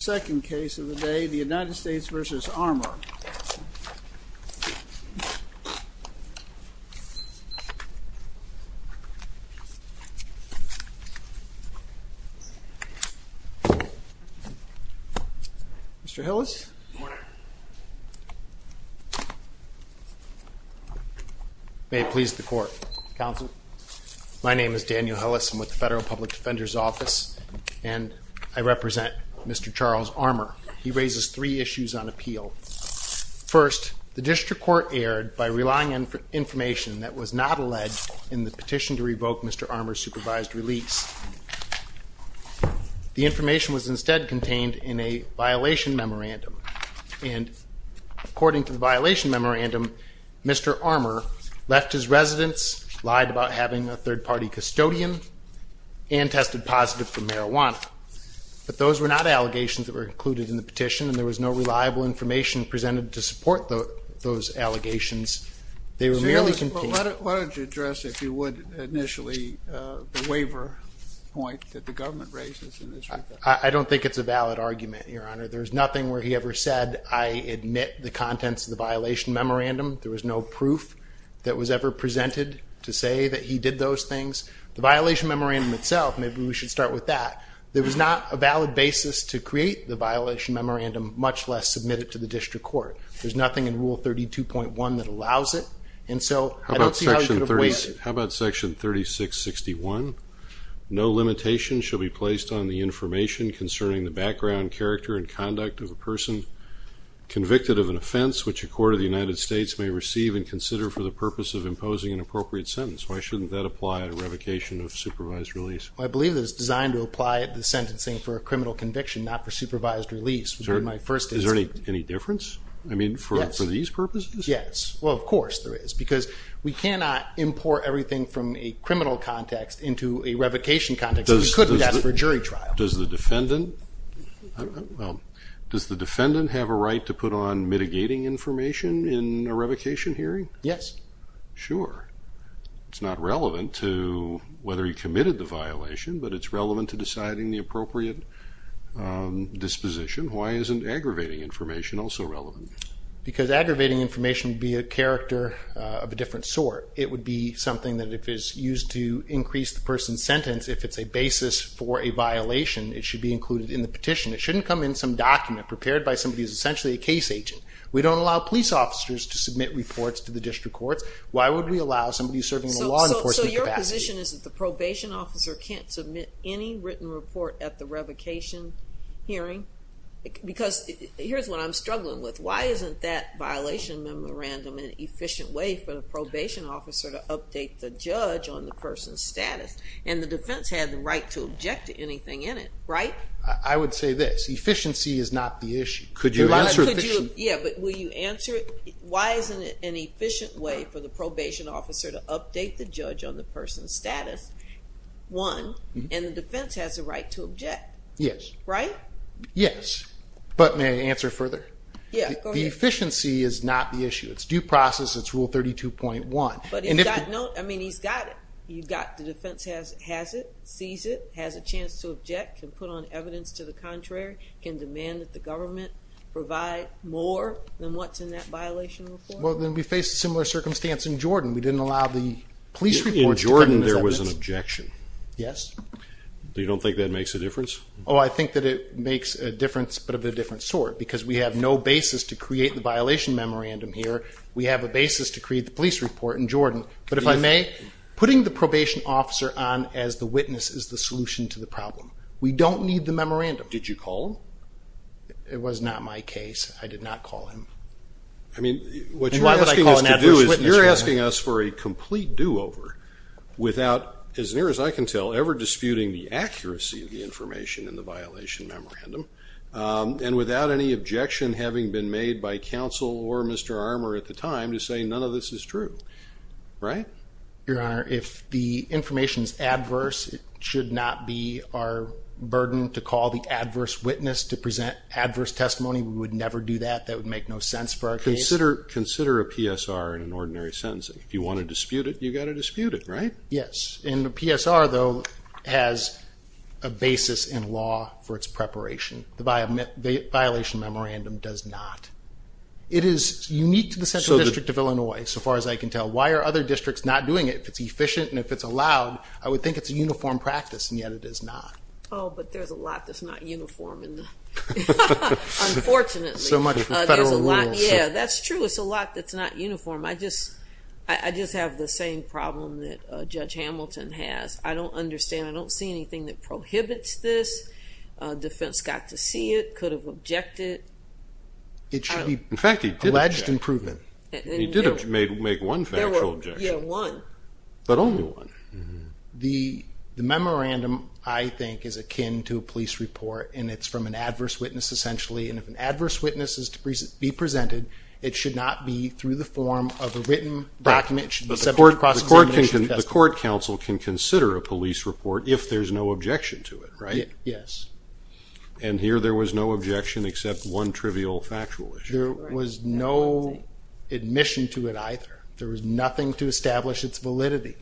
Second case of the day, the United States v. Armour. Mr. Hillis. Good morning. May it please the court. Counsel. My name is Daniel Hillis. I'm with the Federal Public Defender's Office. And I represent Mr. Charles Armour. He raises three issues on appeal. First, the district court erred by relying on information that was not alleged in the petition to revoke Mr. Armour's supervised release. The information was instead contained in a violation memorandum. And according to the violation memorandum, Mr. Armour left his residence, lied about having a third party custodian, and tested positive for marijuana. But those were not allegations that were included in the petition. And there was no reliable information presented to support those allegations. They were merely contained. Why don't you address, if you would, initially the waiver point that the government raises in this regard. I don't think it's a valid argument, Your Honor. There's nothing where he ever said, I admit the contents of the violation memorandum. There was no proof that was ever presented to say that he did those things. The violation memorandum itself, maybe we should start with that. There was not a valid basis to create the violation memorandum, much less submit it to the district court. There's nothing in Rule 32.1 that allows it. And so I don't see how you could have waived it. How about Section 3661? No limitation shall be placed on the information concerning the background, character, and conduct of a person convicted of an offense which a court of the United States may receive and consider for the purpose of imposing an appropriate sentence. Why shouldn't that apply at a revocation of supervised release? I believe it's designed to apply at the sentencing for a criminal conviction, not for supervised release. Is there any difference? I mean, for these purposes? Yes. Well, of course there is because we cannot import everything from a criminal context into a revocation context. We couldn't do that for a jury trial. Does the defendant have a right to put on mitigating information in a revocation hearing? Yes. Sure. It's not relevant to whether he committed the violation, but it's relevant to deciding the appropriate disposition. Why isn't aggravating information also relevant? Because aggravating information would be a character of a different sort. It would be something that if it's used to increase the person's sentence, if it's a basis for a violation, it should be included in the petition. It shouldn't come in some document prepared by somebody who's essentially a case agent. We don't allow police officers to submit reports to the district courts. Why would we allow somebody serving in a law enforcement capacity? So your position is that the probation officer can't submit any written report at the revocation hearing? Because here's what I'm struggling with. Why isn't that violation memorandum an efficient way for the probation officer to update the judge on the person's status? And the defense had the right to object to anything in it, right? I would say this. Efficiency is not the issue. Yeah, but will you answer it? Why isn't it an efficient way for the probation officer to update the judge on the person's status? One, and the defense has the right to object. Yes. Right? Yes. But may I answer further? Yeah, go ahead. The efficiency is not the issue. It's due process. It's Rule 32.1. But he's got it. The defense has it, sees it, has a chance to object, can put on evidence to the contrary, can demand that the government provide more than what's in that violation report? Well, then we faced a similar circumstance in Jordan. We didn't allow the police report to put on evidence. In Jordan, there was an objection. Yes. You don't think that makes a difference? Oh, I think that it makes a difference, but of a different sort, because we have no basis to create the violation memorandum here. We have a basis to create the police report in Jordan. But if I may, putting the probation officer on as the witness is the solution to the problem. We don't need the memorandum. What did you call him? It was not my case. I did not call him. I mean, what you're asking us to do is you're asking us for a complete do-over without, as near as I can tell, ever disputing the accuracy of the information in the violation memorandum, and without any objection having been made by counsel or Mr. Armour at the time to say none of this is true. Right? Your Honor, if the information is adverse, it should not be our burden to call the adverse witness to present adverse testimony. We would never do that. That would make no sense for our case. Consider a PSR in an ordinary sentence. If you want to dispute it, you've got to dispute it, right? Yes. And the PSR, though, has a basis in law for its preparation. The violation memorandum does not. It is unique to the Central District of Illinois, so far as I can tell. Why are other districts not doing it if it's efficient and if it's allowed? I would think it's a uniform practice, and yet it is not. Oh, but there's a lot that's not uniform in the law, unfortunately. So much for federal rules. Yeah, that's true. It's a lot that's not uniform. I just have the same problem that Judge Hamilton has. I don't understand. I don't see anything that prohibits this. Defense got to see it, could have objected. In fact, he did object. It should be alleged improvement. He did make one factual objection. Yeah, one. But only one. The memorandum, I think, is akin to a police report, and it's from an adverse witness, essentially. And if an adverse witness is to be presented, it should not be through the form of a written document. It should be subject to cross-examination and testimony. The court counsel can consider a police report if there's no objection to it, right? Yes. And here there was no objection except one trivial factual issue. There was no admission to it either. There was nothing to establish its validity.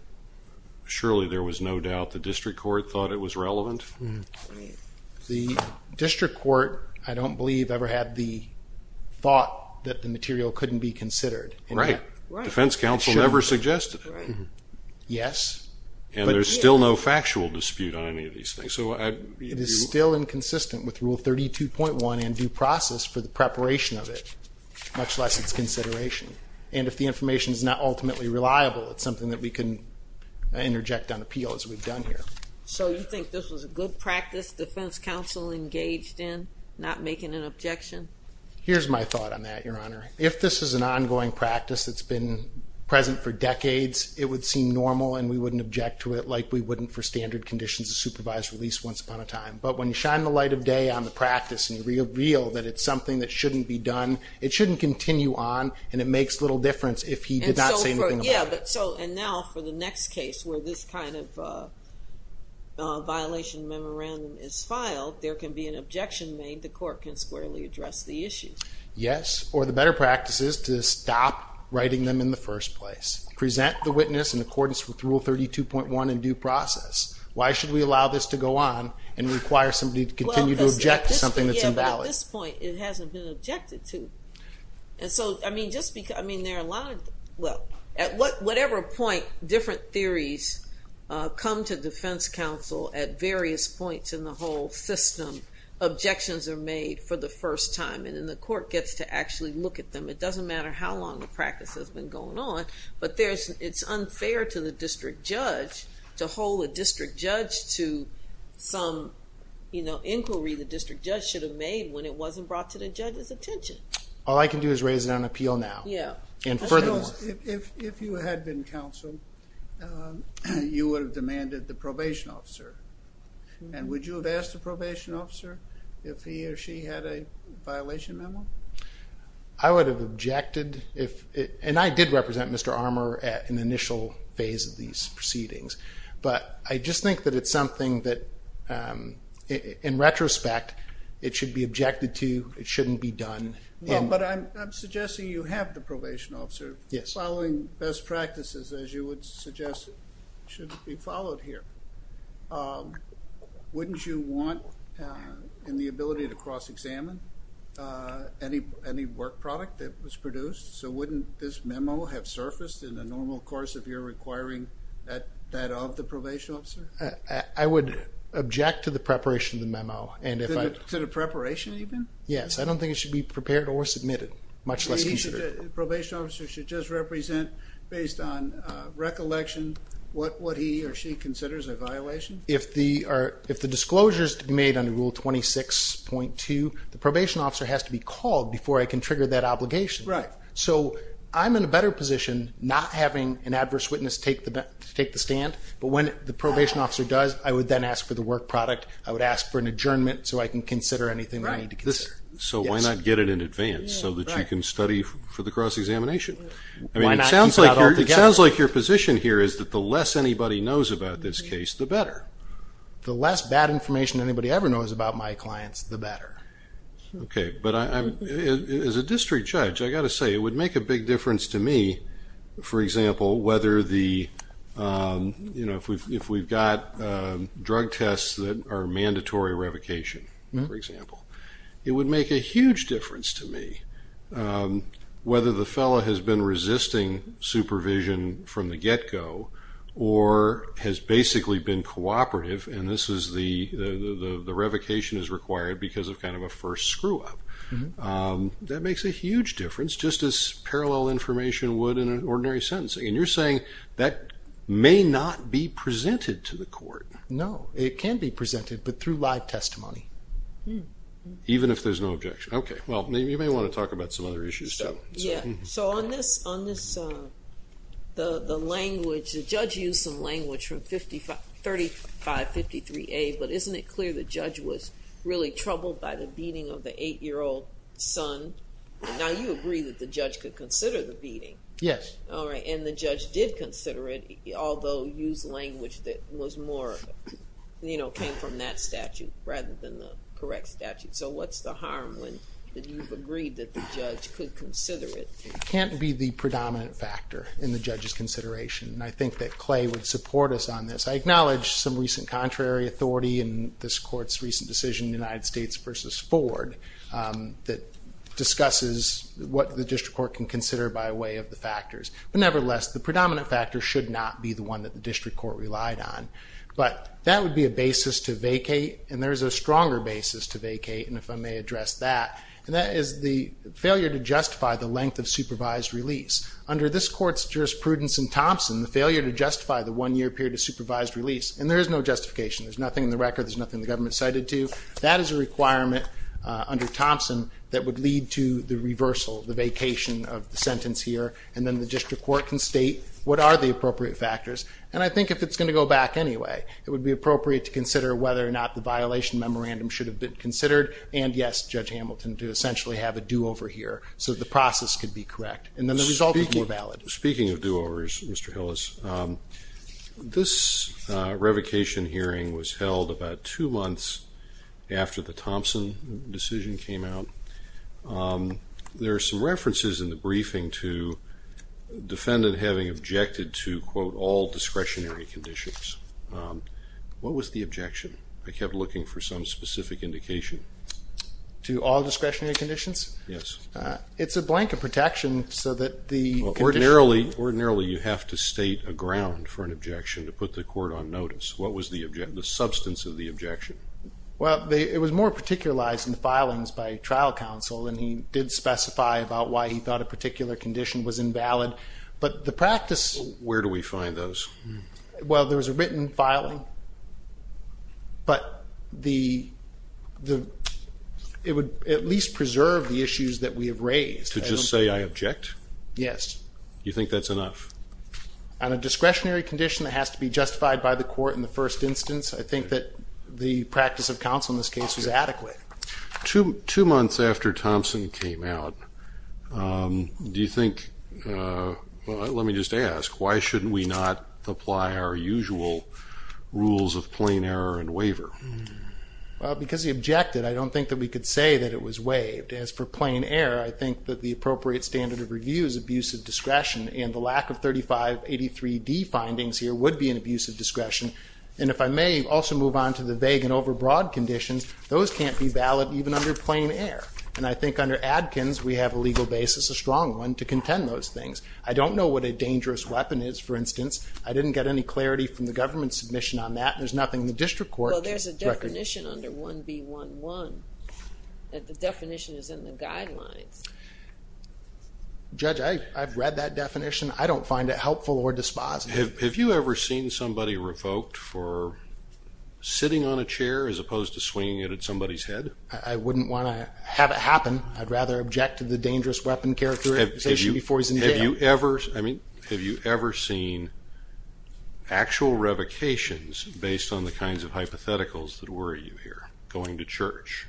Surely there was no doubt the district court thought it was relevant? The district court, I don't believe, ever had the thought that the material couldn't be considered. Right. Defense counsel never suggested it. Yes. And there's still no factual dispute on any of these things. It is still inconsistent with Rule 32.1 and due process for the preparation of it, much less its consideration. And if the information is not ultimately reliable, it's something that we can interject on appeal as we've done here. So you think this was a good practice defense counsel engaged in, not making an objection? Here's my thought on that, Your Honor. If this is an ongoing practice that's been present for decades, it would seem normal and we wouldn't object to it like we wouldn't for standard conditions of supervised release once upon a time. But when you shine the light of day on the practice and you reveal that it's something that shouldn't be done, it shouldn't continue on and it makes little difference if he did not say anything about it. And now for the next case where this kind of violation memorandum is filed, there can be an objection made. The court can squarely address the issue. Yes, or the better practice is to stop writing them in the first place. Present the witness in accordance with Rule 32.1 and due process. Why should we allow this to go on and require somebody to continue to object to something that's invalid? At this point, it hasn't been objected to. At whatever point different theories come to defense counsel at various points in the whole system, objections are made for the first time and then the court gets to actually look at them. It doesn't matter how long the practice has been going on, but it's unfair to the district judge, to hold a district judge to some inquiry the district judge should have made when it wasn't brought to the judge's attention. All I can do is raise it on appeal now. Yeah. If you had been counsel, you would have demanded the probation officer. And would you have asked the probation officer if he or she had a violation memo? I would have objected. And I did represent Mr. Armour at an initial phase of these proceedings. But I just think that it's something that, in retrospect, it should be objected to, it shouldn't be done. But I'm suggesting you have the probation officer following best practices, as you would suggest should be followed here. Wouldn't you want in the ability to cross-examine any work product that was produced? So wouldn't this memo have surfaced in the normal course of your requiring that of the probation officer? I would object to the preparation of the memo. To the preparation even? Yes. I don't think it should be prepared or submitted, much less considered. The probation officer should just represent, based on recollection, what he or she considers a violation? If the disclosure is to be made under Rule 26.2, the probation officer has to be called before I can trigger that obligation. Right. So I'm in a better position not having an adverse witness take the stand. But when the probation officer does, I would then ask for the work product. I would ask for an adjournment so I can consider anything I need to consider. So why not get it in advance so that you can study for the cross-examination? Why not keep it all together? It sounds like your position here is that the less anybody knows about this case, the better. The less bad information anybody ever knows about my clients, the better. Okay. But as a district judge, I've got to say, it would make a big difference to me, for example, if we've got drug tests that are mandatory revocation, for example. It would make a huge difference to me whether the fellow has been resisting supervision from the get-go or has basically been cooperative, and the revocation is required because of kind of a first screw-up. That makes a huge difference, just as parallel information would in an ordinary sentencing. And you're saying that may not be presented to the court. No. It can be presented, but through live testimony. Even if there's no objection. Okay. Well, you may want to talk about some other issues. Yeah. So on this, the language, the judge used some language from 3553A, but isn't it clear the judge was really troubled by the beating of the 8-year-old son? Now you agree that the judge could consider the beating. Yes. All right. And the judge did consider it, although used language that was more, you know, came from that statute rather than the correct statute. So what's the harm when you've agreed that the judge could consider it? It can't be the predominant factor in the judge's consideration, and I think that Clay would support us on this. I acknowledge some recent contrary authority in this court's recent decision in the United States versus Ford that discusses what the district court can consider by way of the factors. But nevertheless, the predominant factor should not be the one that the district court relied on. But that would be a basis to vacate, and there is a stronger basis to vacate, and if I may address that. And that is the failure to justify the length of supervised release. Under this court's jurisprudence in Thompson, the failure to justify the one-year period of supervised release, and there is no justification, there's nothing in the record, there's nothing the government cited to, that is a requirement under Thompson that would lead to the reversal, the vacation of the sentence here, and then the district court can state what are the appropriate factors. And I think if it's going to go back anyway, it would be appropriate to consider whether or not the violation memorandum should have been considered, and yes, Judge Hamilton, to essentially have a do-over here, so the process could be correct. And then the result would be more valid. Speaking of do-overs, Mr. Hillis, this revocation hearing was held about two months after the Thompson decision came out. There are some references in the briefing to defendant having objected to, quote, all discretionary conditions. What was the objection? I kept looking for some specific indication. To all discretionary conditions? Yes. It's a blank of protection so that the condition. Well, ordinarily you have to state a ground for an objection to put the court on notice. What was the substance of the objection? Well, it was more particularized in the filings by trial counsel, and he did specify about why he thought a particular condition was invalid. Where do we find those? Well, there was a written filing, but it would at least preserve the issues that we have raised. To just say I object? Yes. You think that's enough? On a discretionary condition that has to be justified by the court in the first instance, I think that the practice of counsel in this case was adequate. Two months after Thompson came out, let me just ask, why shouldn't we not apply our usual rules of plain error and waiver? Well, because he objected, I don't think that we could say that it was waived. As for plain error, I think that the appropriate standard of review is abusive discretion, and the lack of 3583D findings here would be an abusive discretion. And if I may also move on to the vague and overbroad conditions, those can't be valid even under plain error. And I think under Adkins we have a legal basis, a strong one, to contend those things. I don't know what a dangerous weapon is, for instance. I didn't get any clarity from the government's submission on that. There's nothing in the district court. Well, there's a definition under 1B11. The definition is in the guidelines. Judge, I've read that definition. I don't find it helpful or dispositive. Have you ever seen somebody revoked for sitting on a chair as opposed to swinging it at somebody's head? I wouldn't want to have it happen. I'd rather object to the dangerous weapon characterization before he's in jail. Have you ever seen actual revocations based on the kinds of hypotheticals that worry you here, going to church?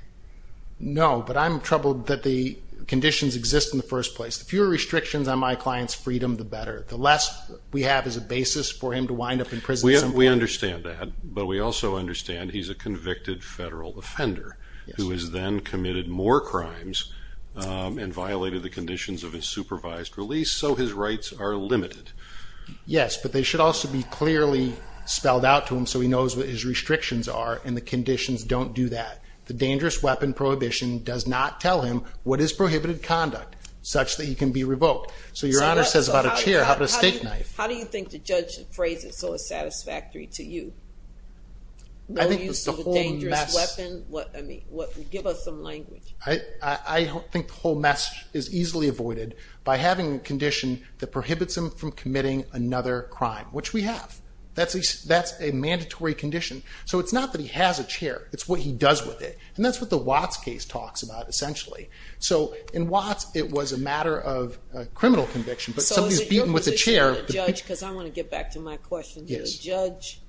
No, but I'm troubled that the conditions exist in the first place. The fewer restrictions on my client's freedom, the better. The less we have as a basis for him to wind up in prison. We understand that, but we also understand he's a convicted federal offender. Yes. Who has then committed more crimes and violated the conditions of his supervised release, so his rights are limited. Yes, but they should also be clearly spelled out to him so he knows what his restrictions are and the conditions don't do that. The dangerous weapon prohibition does not tell him what is prohibited conduct, such that he can be revoked. So your Honor says about a chair, how about a steak knife? How do you think the judge appraised it so it's satisfactory to you? No use of a dangerous weapon? Give us some language. I think the whole mess is easily avoided by having a condition that prohibits him from committing another crime, which we have. That's a mandatory condition. So it's not that he has a chair, it's what he does with it. And that's what the Watts case talks about, essentially. So in Watts, it was a matter of criminal conviction, but somebody's beaten with a chair. So is it your position as a judge, because I want to get back to my question, that a judge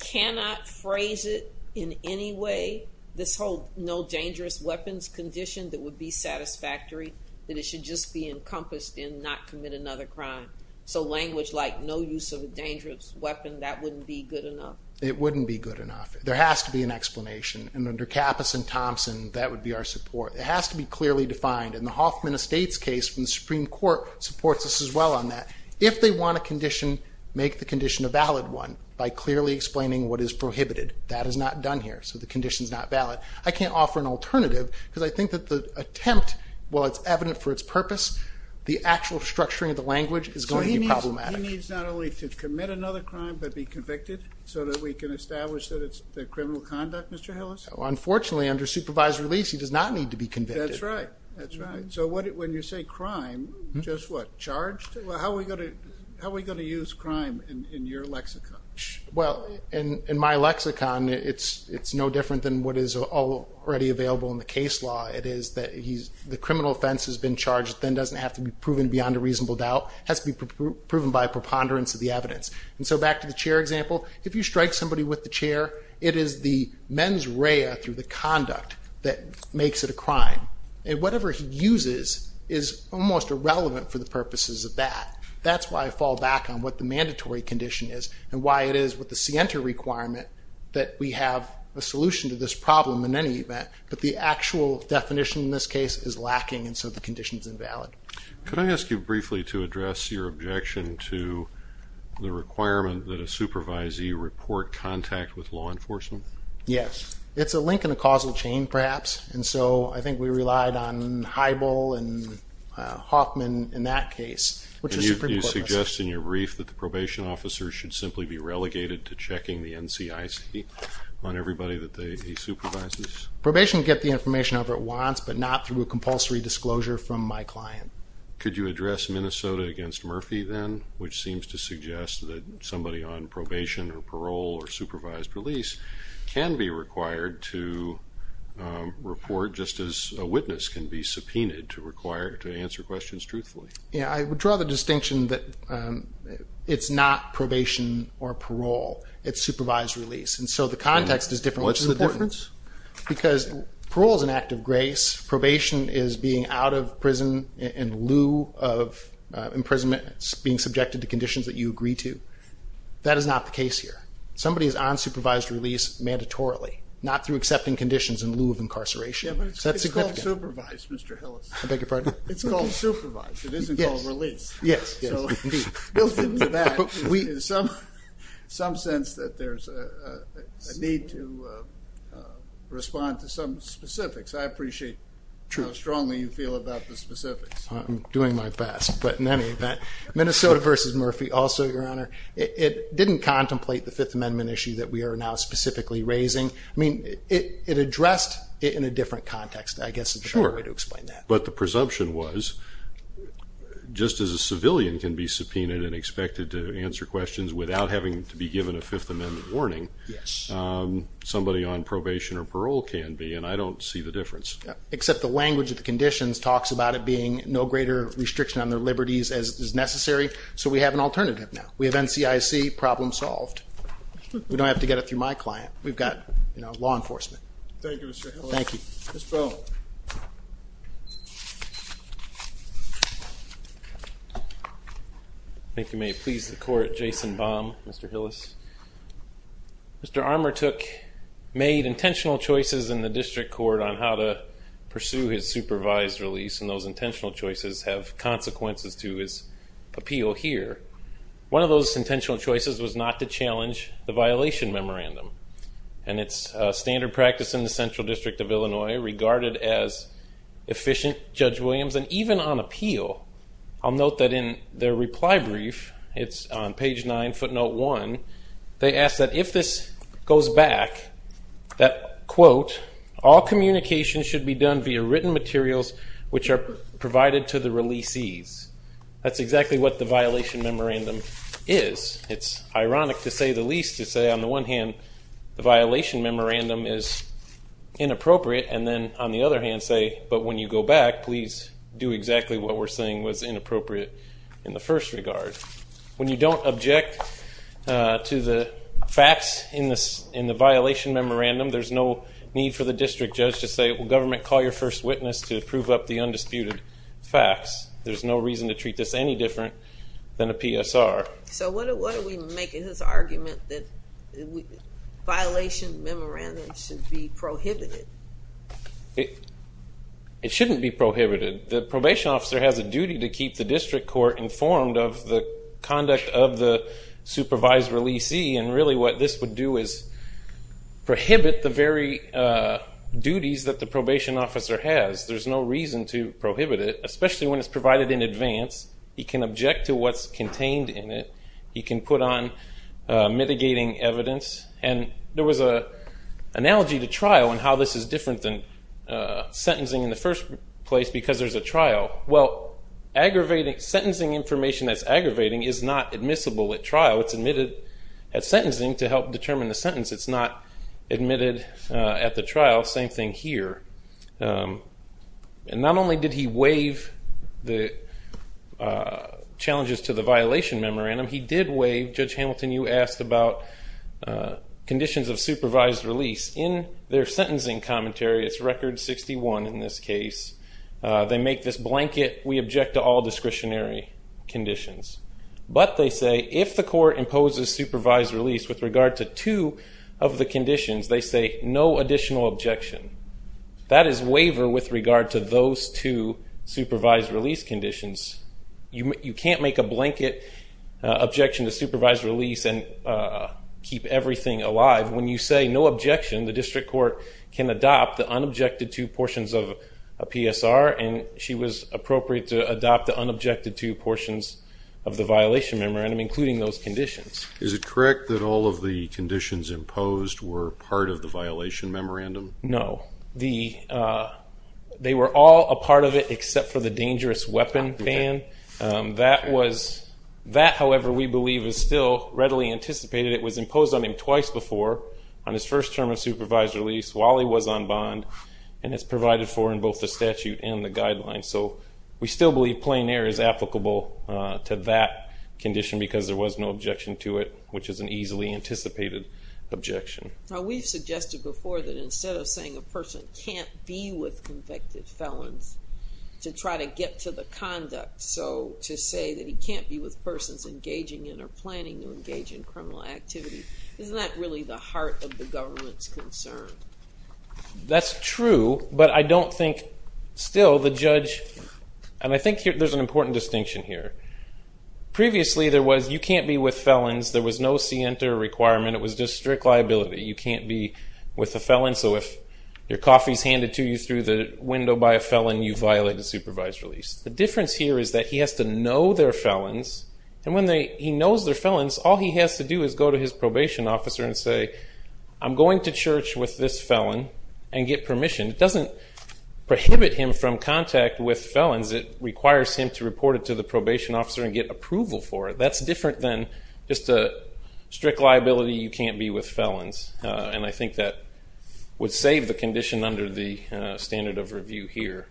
cannot phrase it in any way, this whole no dangerous weapons condition that would be satisfactory, that it should just be encompassed in not commit another crime? So language like no use of a dangerous weapon, that wouldn't be good enough? It wouldn't be good enough. There has to be an explanation. And under Kappus and Thompson, that would be our support. It has to be clearly defined. And the Hoffman Estates case from the Supreme Court supports us as well on that. If they want a condition, make the condition a valid one by clearly explaining what is prohibited. That is not done here. So the condition is not valid. I can't offer an alternative because I think that the attempt, while it's evident for its purpose, the actual structuring of the language is going to be problematic. So he needs not only to commit another crime but be convicted so that we can establish that it's criminal conduct, Mr. Hillis? Unfortunately, under supervised release, he does not need to be convicted. That's right. So when you say crime, just what, charged? Well, how are we going to use crime in your lexicon? Well, in my lexicon, it's no different than what is already available in the case law. It is that the criminal offense has been charged. It then doesn't have to be proven beyond a reasonable doubt. It has to be proven by a preponderance of the evidence. And so back to the chair example, if you strike somebody with the chair, it is the mens rea through the conduct that makes it a crime. And whatever he uses is almost irrelevant for the purposes of that. That's why I fall back on what the mandatory condition is and why it is with the scienter requirement that we have a solution to this problem in any event. But the actual definition in this case is lacking, and so the condition is invalid. Could I ask you briefly to address your objection to the requirement that a supervisee report contact with law enforcement? Yes. It's a link in a causal chain, perhaps. And so I think we relied on Heibel and Hoffman in that case. And you suggest in your brief that the probation officer should simply be relegated to checking the NCIC on everybody that he supervises? Probation can get the information however it wants, but not through a compulsory disclosure from my client. Could you address Minnesota against Murphy then, which seems to suggest that somebody on probation or parole or supervised release can be required to report just as a witness can be subpoenaed to answer questions truthfully? I would draw the distinction that it's not probation or parole. It's supervised release. And so the context is different. What's the difference? Because parole is an act of grace. Probation is being out of prison in lieu of imprisonment, being subjected to conditions that you agree to. That is not the case here. Somebody is on supervised release mandatorily, not through accepting conditions in lieu of incarceration. Yeah, but it's called supervised, Mr. Hillis. I beg your pardon? It's called supervised. It isn't called release. Yes, yes. So built into that is some sense that there's a need to respond to some specifics. I appreciate how strongly you feel about the specifics. I'm doing my best. But in any event, Minnesota v. Murphy also, Your Honor, it didn't contemplate the Fifth Amendment issue that we are now specifically raising. I mean, it addressed it in a different context, I guess, is the proper way to explain that. Sure. But the presumption was just as a civilian can be subpoenaed and expected to answer questions without having to be given a Fifth Amendment warning, somebody on probation or parole can be, and I don't see the difference. Except the language of the conditions talks about it being no greater restriction on their liberties as is necessary. So we have an alternative now. We have NCIC problem solved. We don't have to get it through my client. We've got law enforcement. Thank you, Mr. Hillis. Thank you. Mr. Bell. I think you may please the court, Jason Baum, Mr. Hillis. Mr. Armour made intentional choices in the district court on how to pursue his supervised release, and those intentional choices have consequences to his appeal here. One of those intentional choices was not to challenge the violation memorandum. And it's standard practice in the Central District of Illinois regarded as efficient, Judge Williams. And even on appeal, I'll note that in their reply brief, it's on page 9, footnote 1, they ask that if this goes back, that, quote, all communication should be done via written materials, which are provided to the releasees. That's exactly what the violation memorandum is. It's ironic to say the least, to say on the one hand, the violation memorandum is inappropriate, and then on the other hand say, but when you go back, please do exactly what we're saying was inappropriate in the first regard. When you don't object to the facts in the violation memorandum, there's no need for the district judge to say, well, government, call your first witness to prove up the undisputed facts. There's no reason to treat this any different than a PSR. So what do we make of his argument that violation memorandum should be prohibited? It shouldn't be prohibited. The probation officer has a duty to keep the district court informed of the conduct of the supervised releasee, and really what this would do is prohibit the very duties that the probation officer has. There's no reason to prohibit it, especially when it's provided in advance. He can object to what's contained in it. He can put on mitigating evidence. And there was an analogy to trial and how this is different than sentencing in the first place because there's a trial. Well, sentencing information that's aggravating is not admissible at trial. It's admitted at sentencing to help determine the sentence. It's not admitted at the trial. Same thing here. And not only did he waive the challenges to the violation memorandum, he did waive, Judge Hamilton, you asked about conditions of supervised release. In their sentencing commentary, it's record 61 in this case, they make this blanket, we object to all discretionary conditions. But they say if the court imposes supervised release with regard to two of the conditions, they say no additional objection. That is waiver with regard to those two supervised release conditions. You can't make a blanket objection to supervised release and keep everything alive. When you say no objection, the district court can adopt the unobjected two portions of a PSR, and she was appropriate to adopt the unobjected two portions of the violation memorandum, including those conditions. Is it correct that all of the conditions imposed were part of the violation memorandum? No. They were all a part of it except for the dangerous weapon ban. That, however, we believe is still readily anticipated. It was imposed on him twice before, on his first term of supervised release, while he was on bond, and it's provided for in both the statute and the guidelines. So we still believe plein air is applicable to that condition because there was no objection to it, which is an easily anticipated objection. Now we've suggested before that instead of saying a person can't be with convicted felons to try to get to the conduct, so to say that he can't be with persons engaging in or planning to engage in criminal activity, isn't that really the heart of the government's concern? That's true, but I don't think still the judge, and I think there's an important distinction here. Previously there was you can't be with felons. There was no scienter requirement. It was just strict liability. You can't be with a felon, so if your coffee is handed to you through the window by a felon, you violate the supervised release. The difference here is that he has to know they're felons, and when he knows they're felons, all he has to do is go to his probation officer and say, I'm going to church with this felon and get permission. It doesn't prohibit him from contact with felons. It requires him to report it to the probation officer and get approval for it. That's different than just a strict liability, you can't be with felons, and I think that would save the condition under the standard of review here.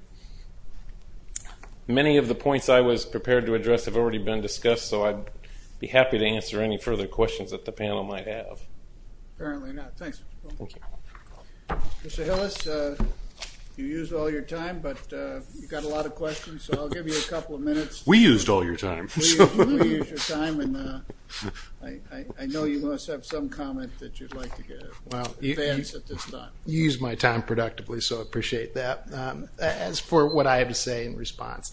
Many of the points I was prepared to address have already been discussed, so I'd be happy to answer any further questions that the panel might have. Apparently not. Thanks. Thank you. Mr. Hillis, you used all your time, but you've got a lot of questions, so I'll give you a couple of minutes. We used all your time. We used your time, and I know you must have some comment that you'd like to advance at this time. You used my time productively, so I appreciate that. As for what I have to say in response,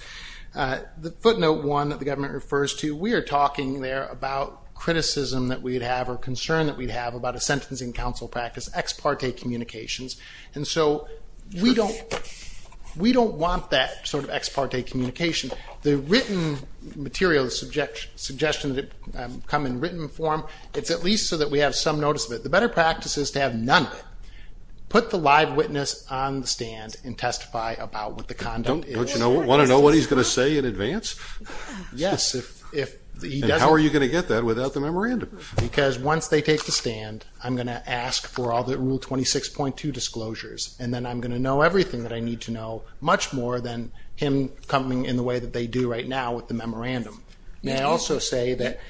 the footnote one that the government refers to, we are talking there about criticism that we'd have or concern that we'd have about a sentencing council practice, ex parte communications, and so we don't want that sort of ex parte communication. The written material, the suggestion that it come in written form, it's at least so that we have some notice of it. The better practice is to have none of it. Put the live witness on the stand and testify about what the conduct is. Don't you want to know what he's going to say in advance? Yes. And how are you going to get that without the memorandum? Because once they take the stand, I'm going to ask for all the Rule 26.2 disclosures, and then I'm going to know everything that I need to know, much more than him coming in the way that they do right now with the memorandum. May I also say that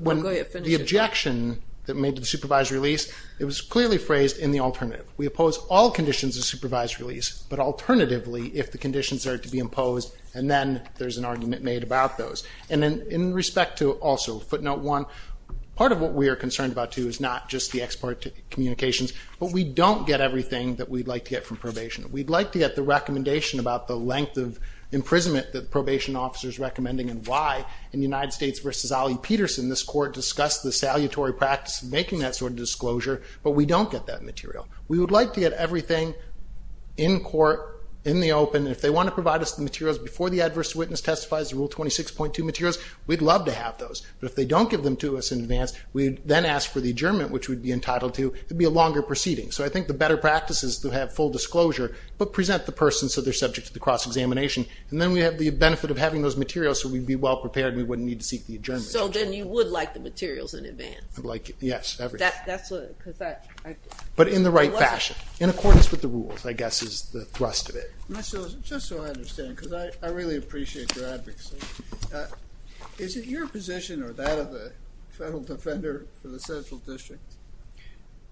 when the objection that made to the supervised release, it was clearly phrased in the alternative. We oppose all conditions of supervised release, but alternatively, if the conditions are to be imposed and then there's an argument made about those. And then in respect to also footnote one, part of what we are concerned about, too, is not just the export communications, but we don't get everything that we'd like to get from probation. We'd like to get the recommendation about the length of imprisonment that the probation officer is recommending and why in the United States versus Ollie Peterson, this court discussed the salutary practice of making that sort of disclosure, but we don't get that material. We would like to get everything in court, in the open, and if they want to provide us the materials before the adverse witness testifies, the Rule 26.2 materials, we'd love to have those. But if they don't give them to us in advance, we'd then ask for the adjournment, which we'd be entitled to. It'd be a longer proceeding. So I think the better practice is to have full disclosure, but present the person so they're subject to the cross-examination. And then we have the benefit of having those materials so we'd be well-prepared and we wouldn't need to seek the adjournment. So then you would like the materials in advance? I'd like, yes, everything. That's what, because that... But in the right fashion, in accordance with the rules, I guess is the thrust of it. Just so I understand, because I really appreciate your advocacy, is it your position, or that of the federal defender for the Central District,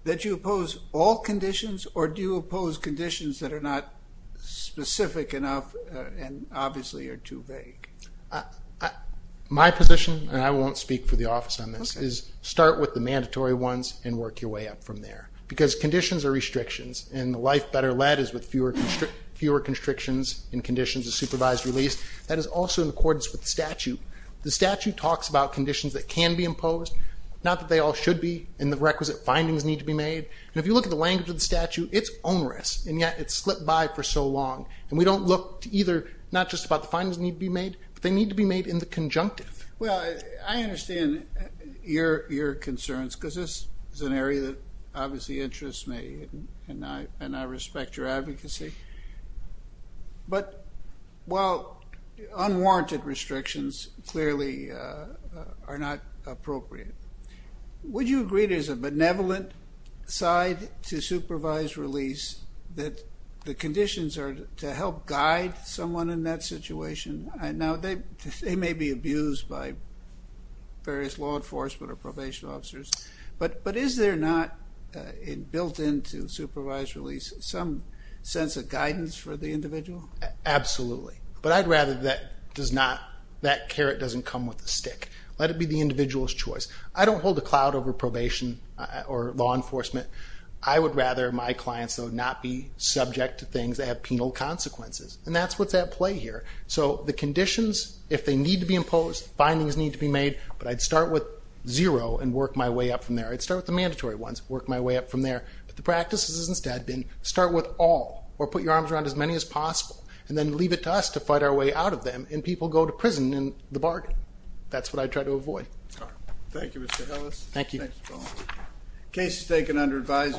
that you oppose all conditions, or do you oppose conditions that are not specific enough and obviously are too vague? My position, and I won't speak for the office on this, is start with the mandatory ones and work your way up from there. Because conditions are restrictions, and the life better led is with fewer constrictions in conditions of supervised release. That is also in accordance with the statute. The statute talks about conditions that can be imposed, not that they all should be, and the requisite findings need to be made. And if you look at the language of the statute, it's onerous, and yet it's slipped by for so long. And we don't look to either, not just about the findings that need to be made, but they need to be made in the conjunctive. Well, I understand your concerns, because this is an area that obviously interests me and I respect your advocacy. But, well, unwarranted restrictions clearly are not appropriate. Would you agree there's a benevolent side to supervised release, that the conditions are to help guide someone in that situation? Now, they may be abused by various law enforcement or probation officers, but is there not, built into supervised release, some sense of guidance for the individual? Absolutely. But I'd rather that carrot doesn't come with a stick. Let it be the individual's choice. I don't hold a cloud over probation or law enforcement. I would rather my clients, though, not be subject to things that have penal consequences. And that's what's at play here. So the conditions, if they need to be imposed, findings need to be made, but I'd start with zero and work my way up from there. I'd start with the mandatory ones, work my way up from there. But the practice has instead been, start with all, or put your arms around as many as possible, and then leave it to us to fight our way out of them, and people go to prison in the bargain. That's what I try to avoid. Thank you, Mr. Ellis. Thank you. Case is taken under advisory.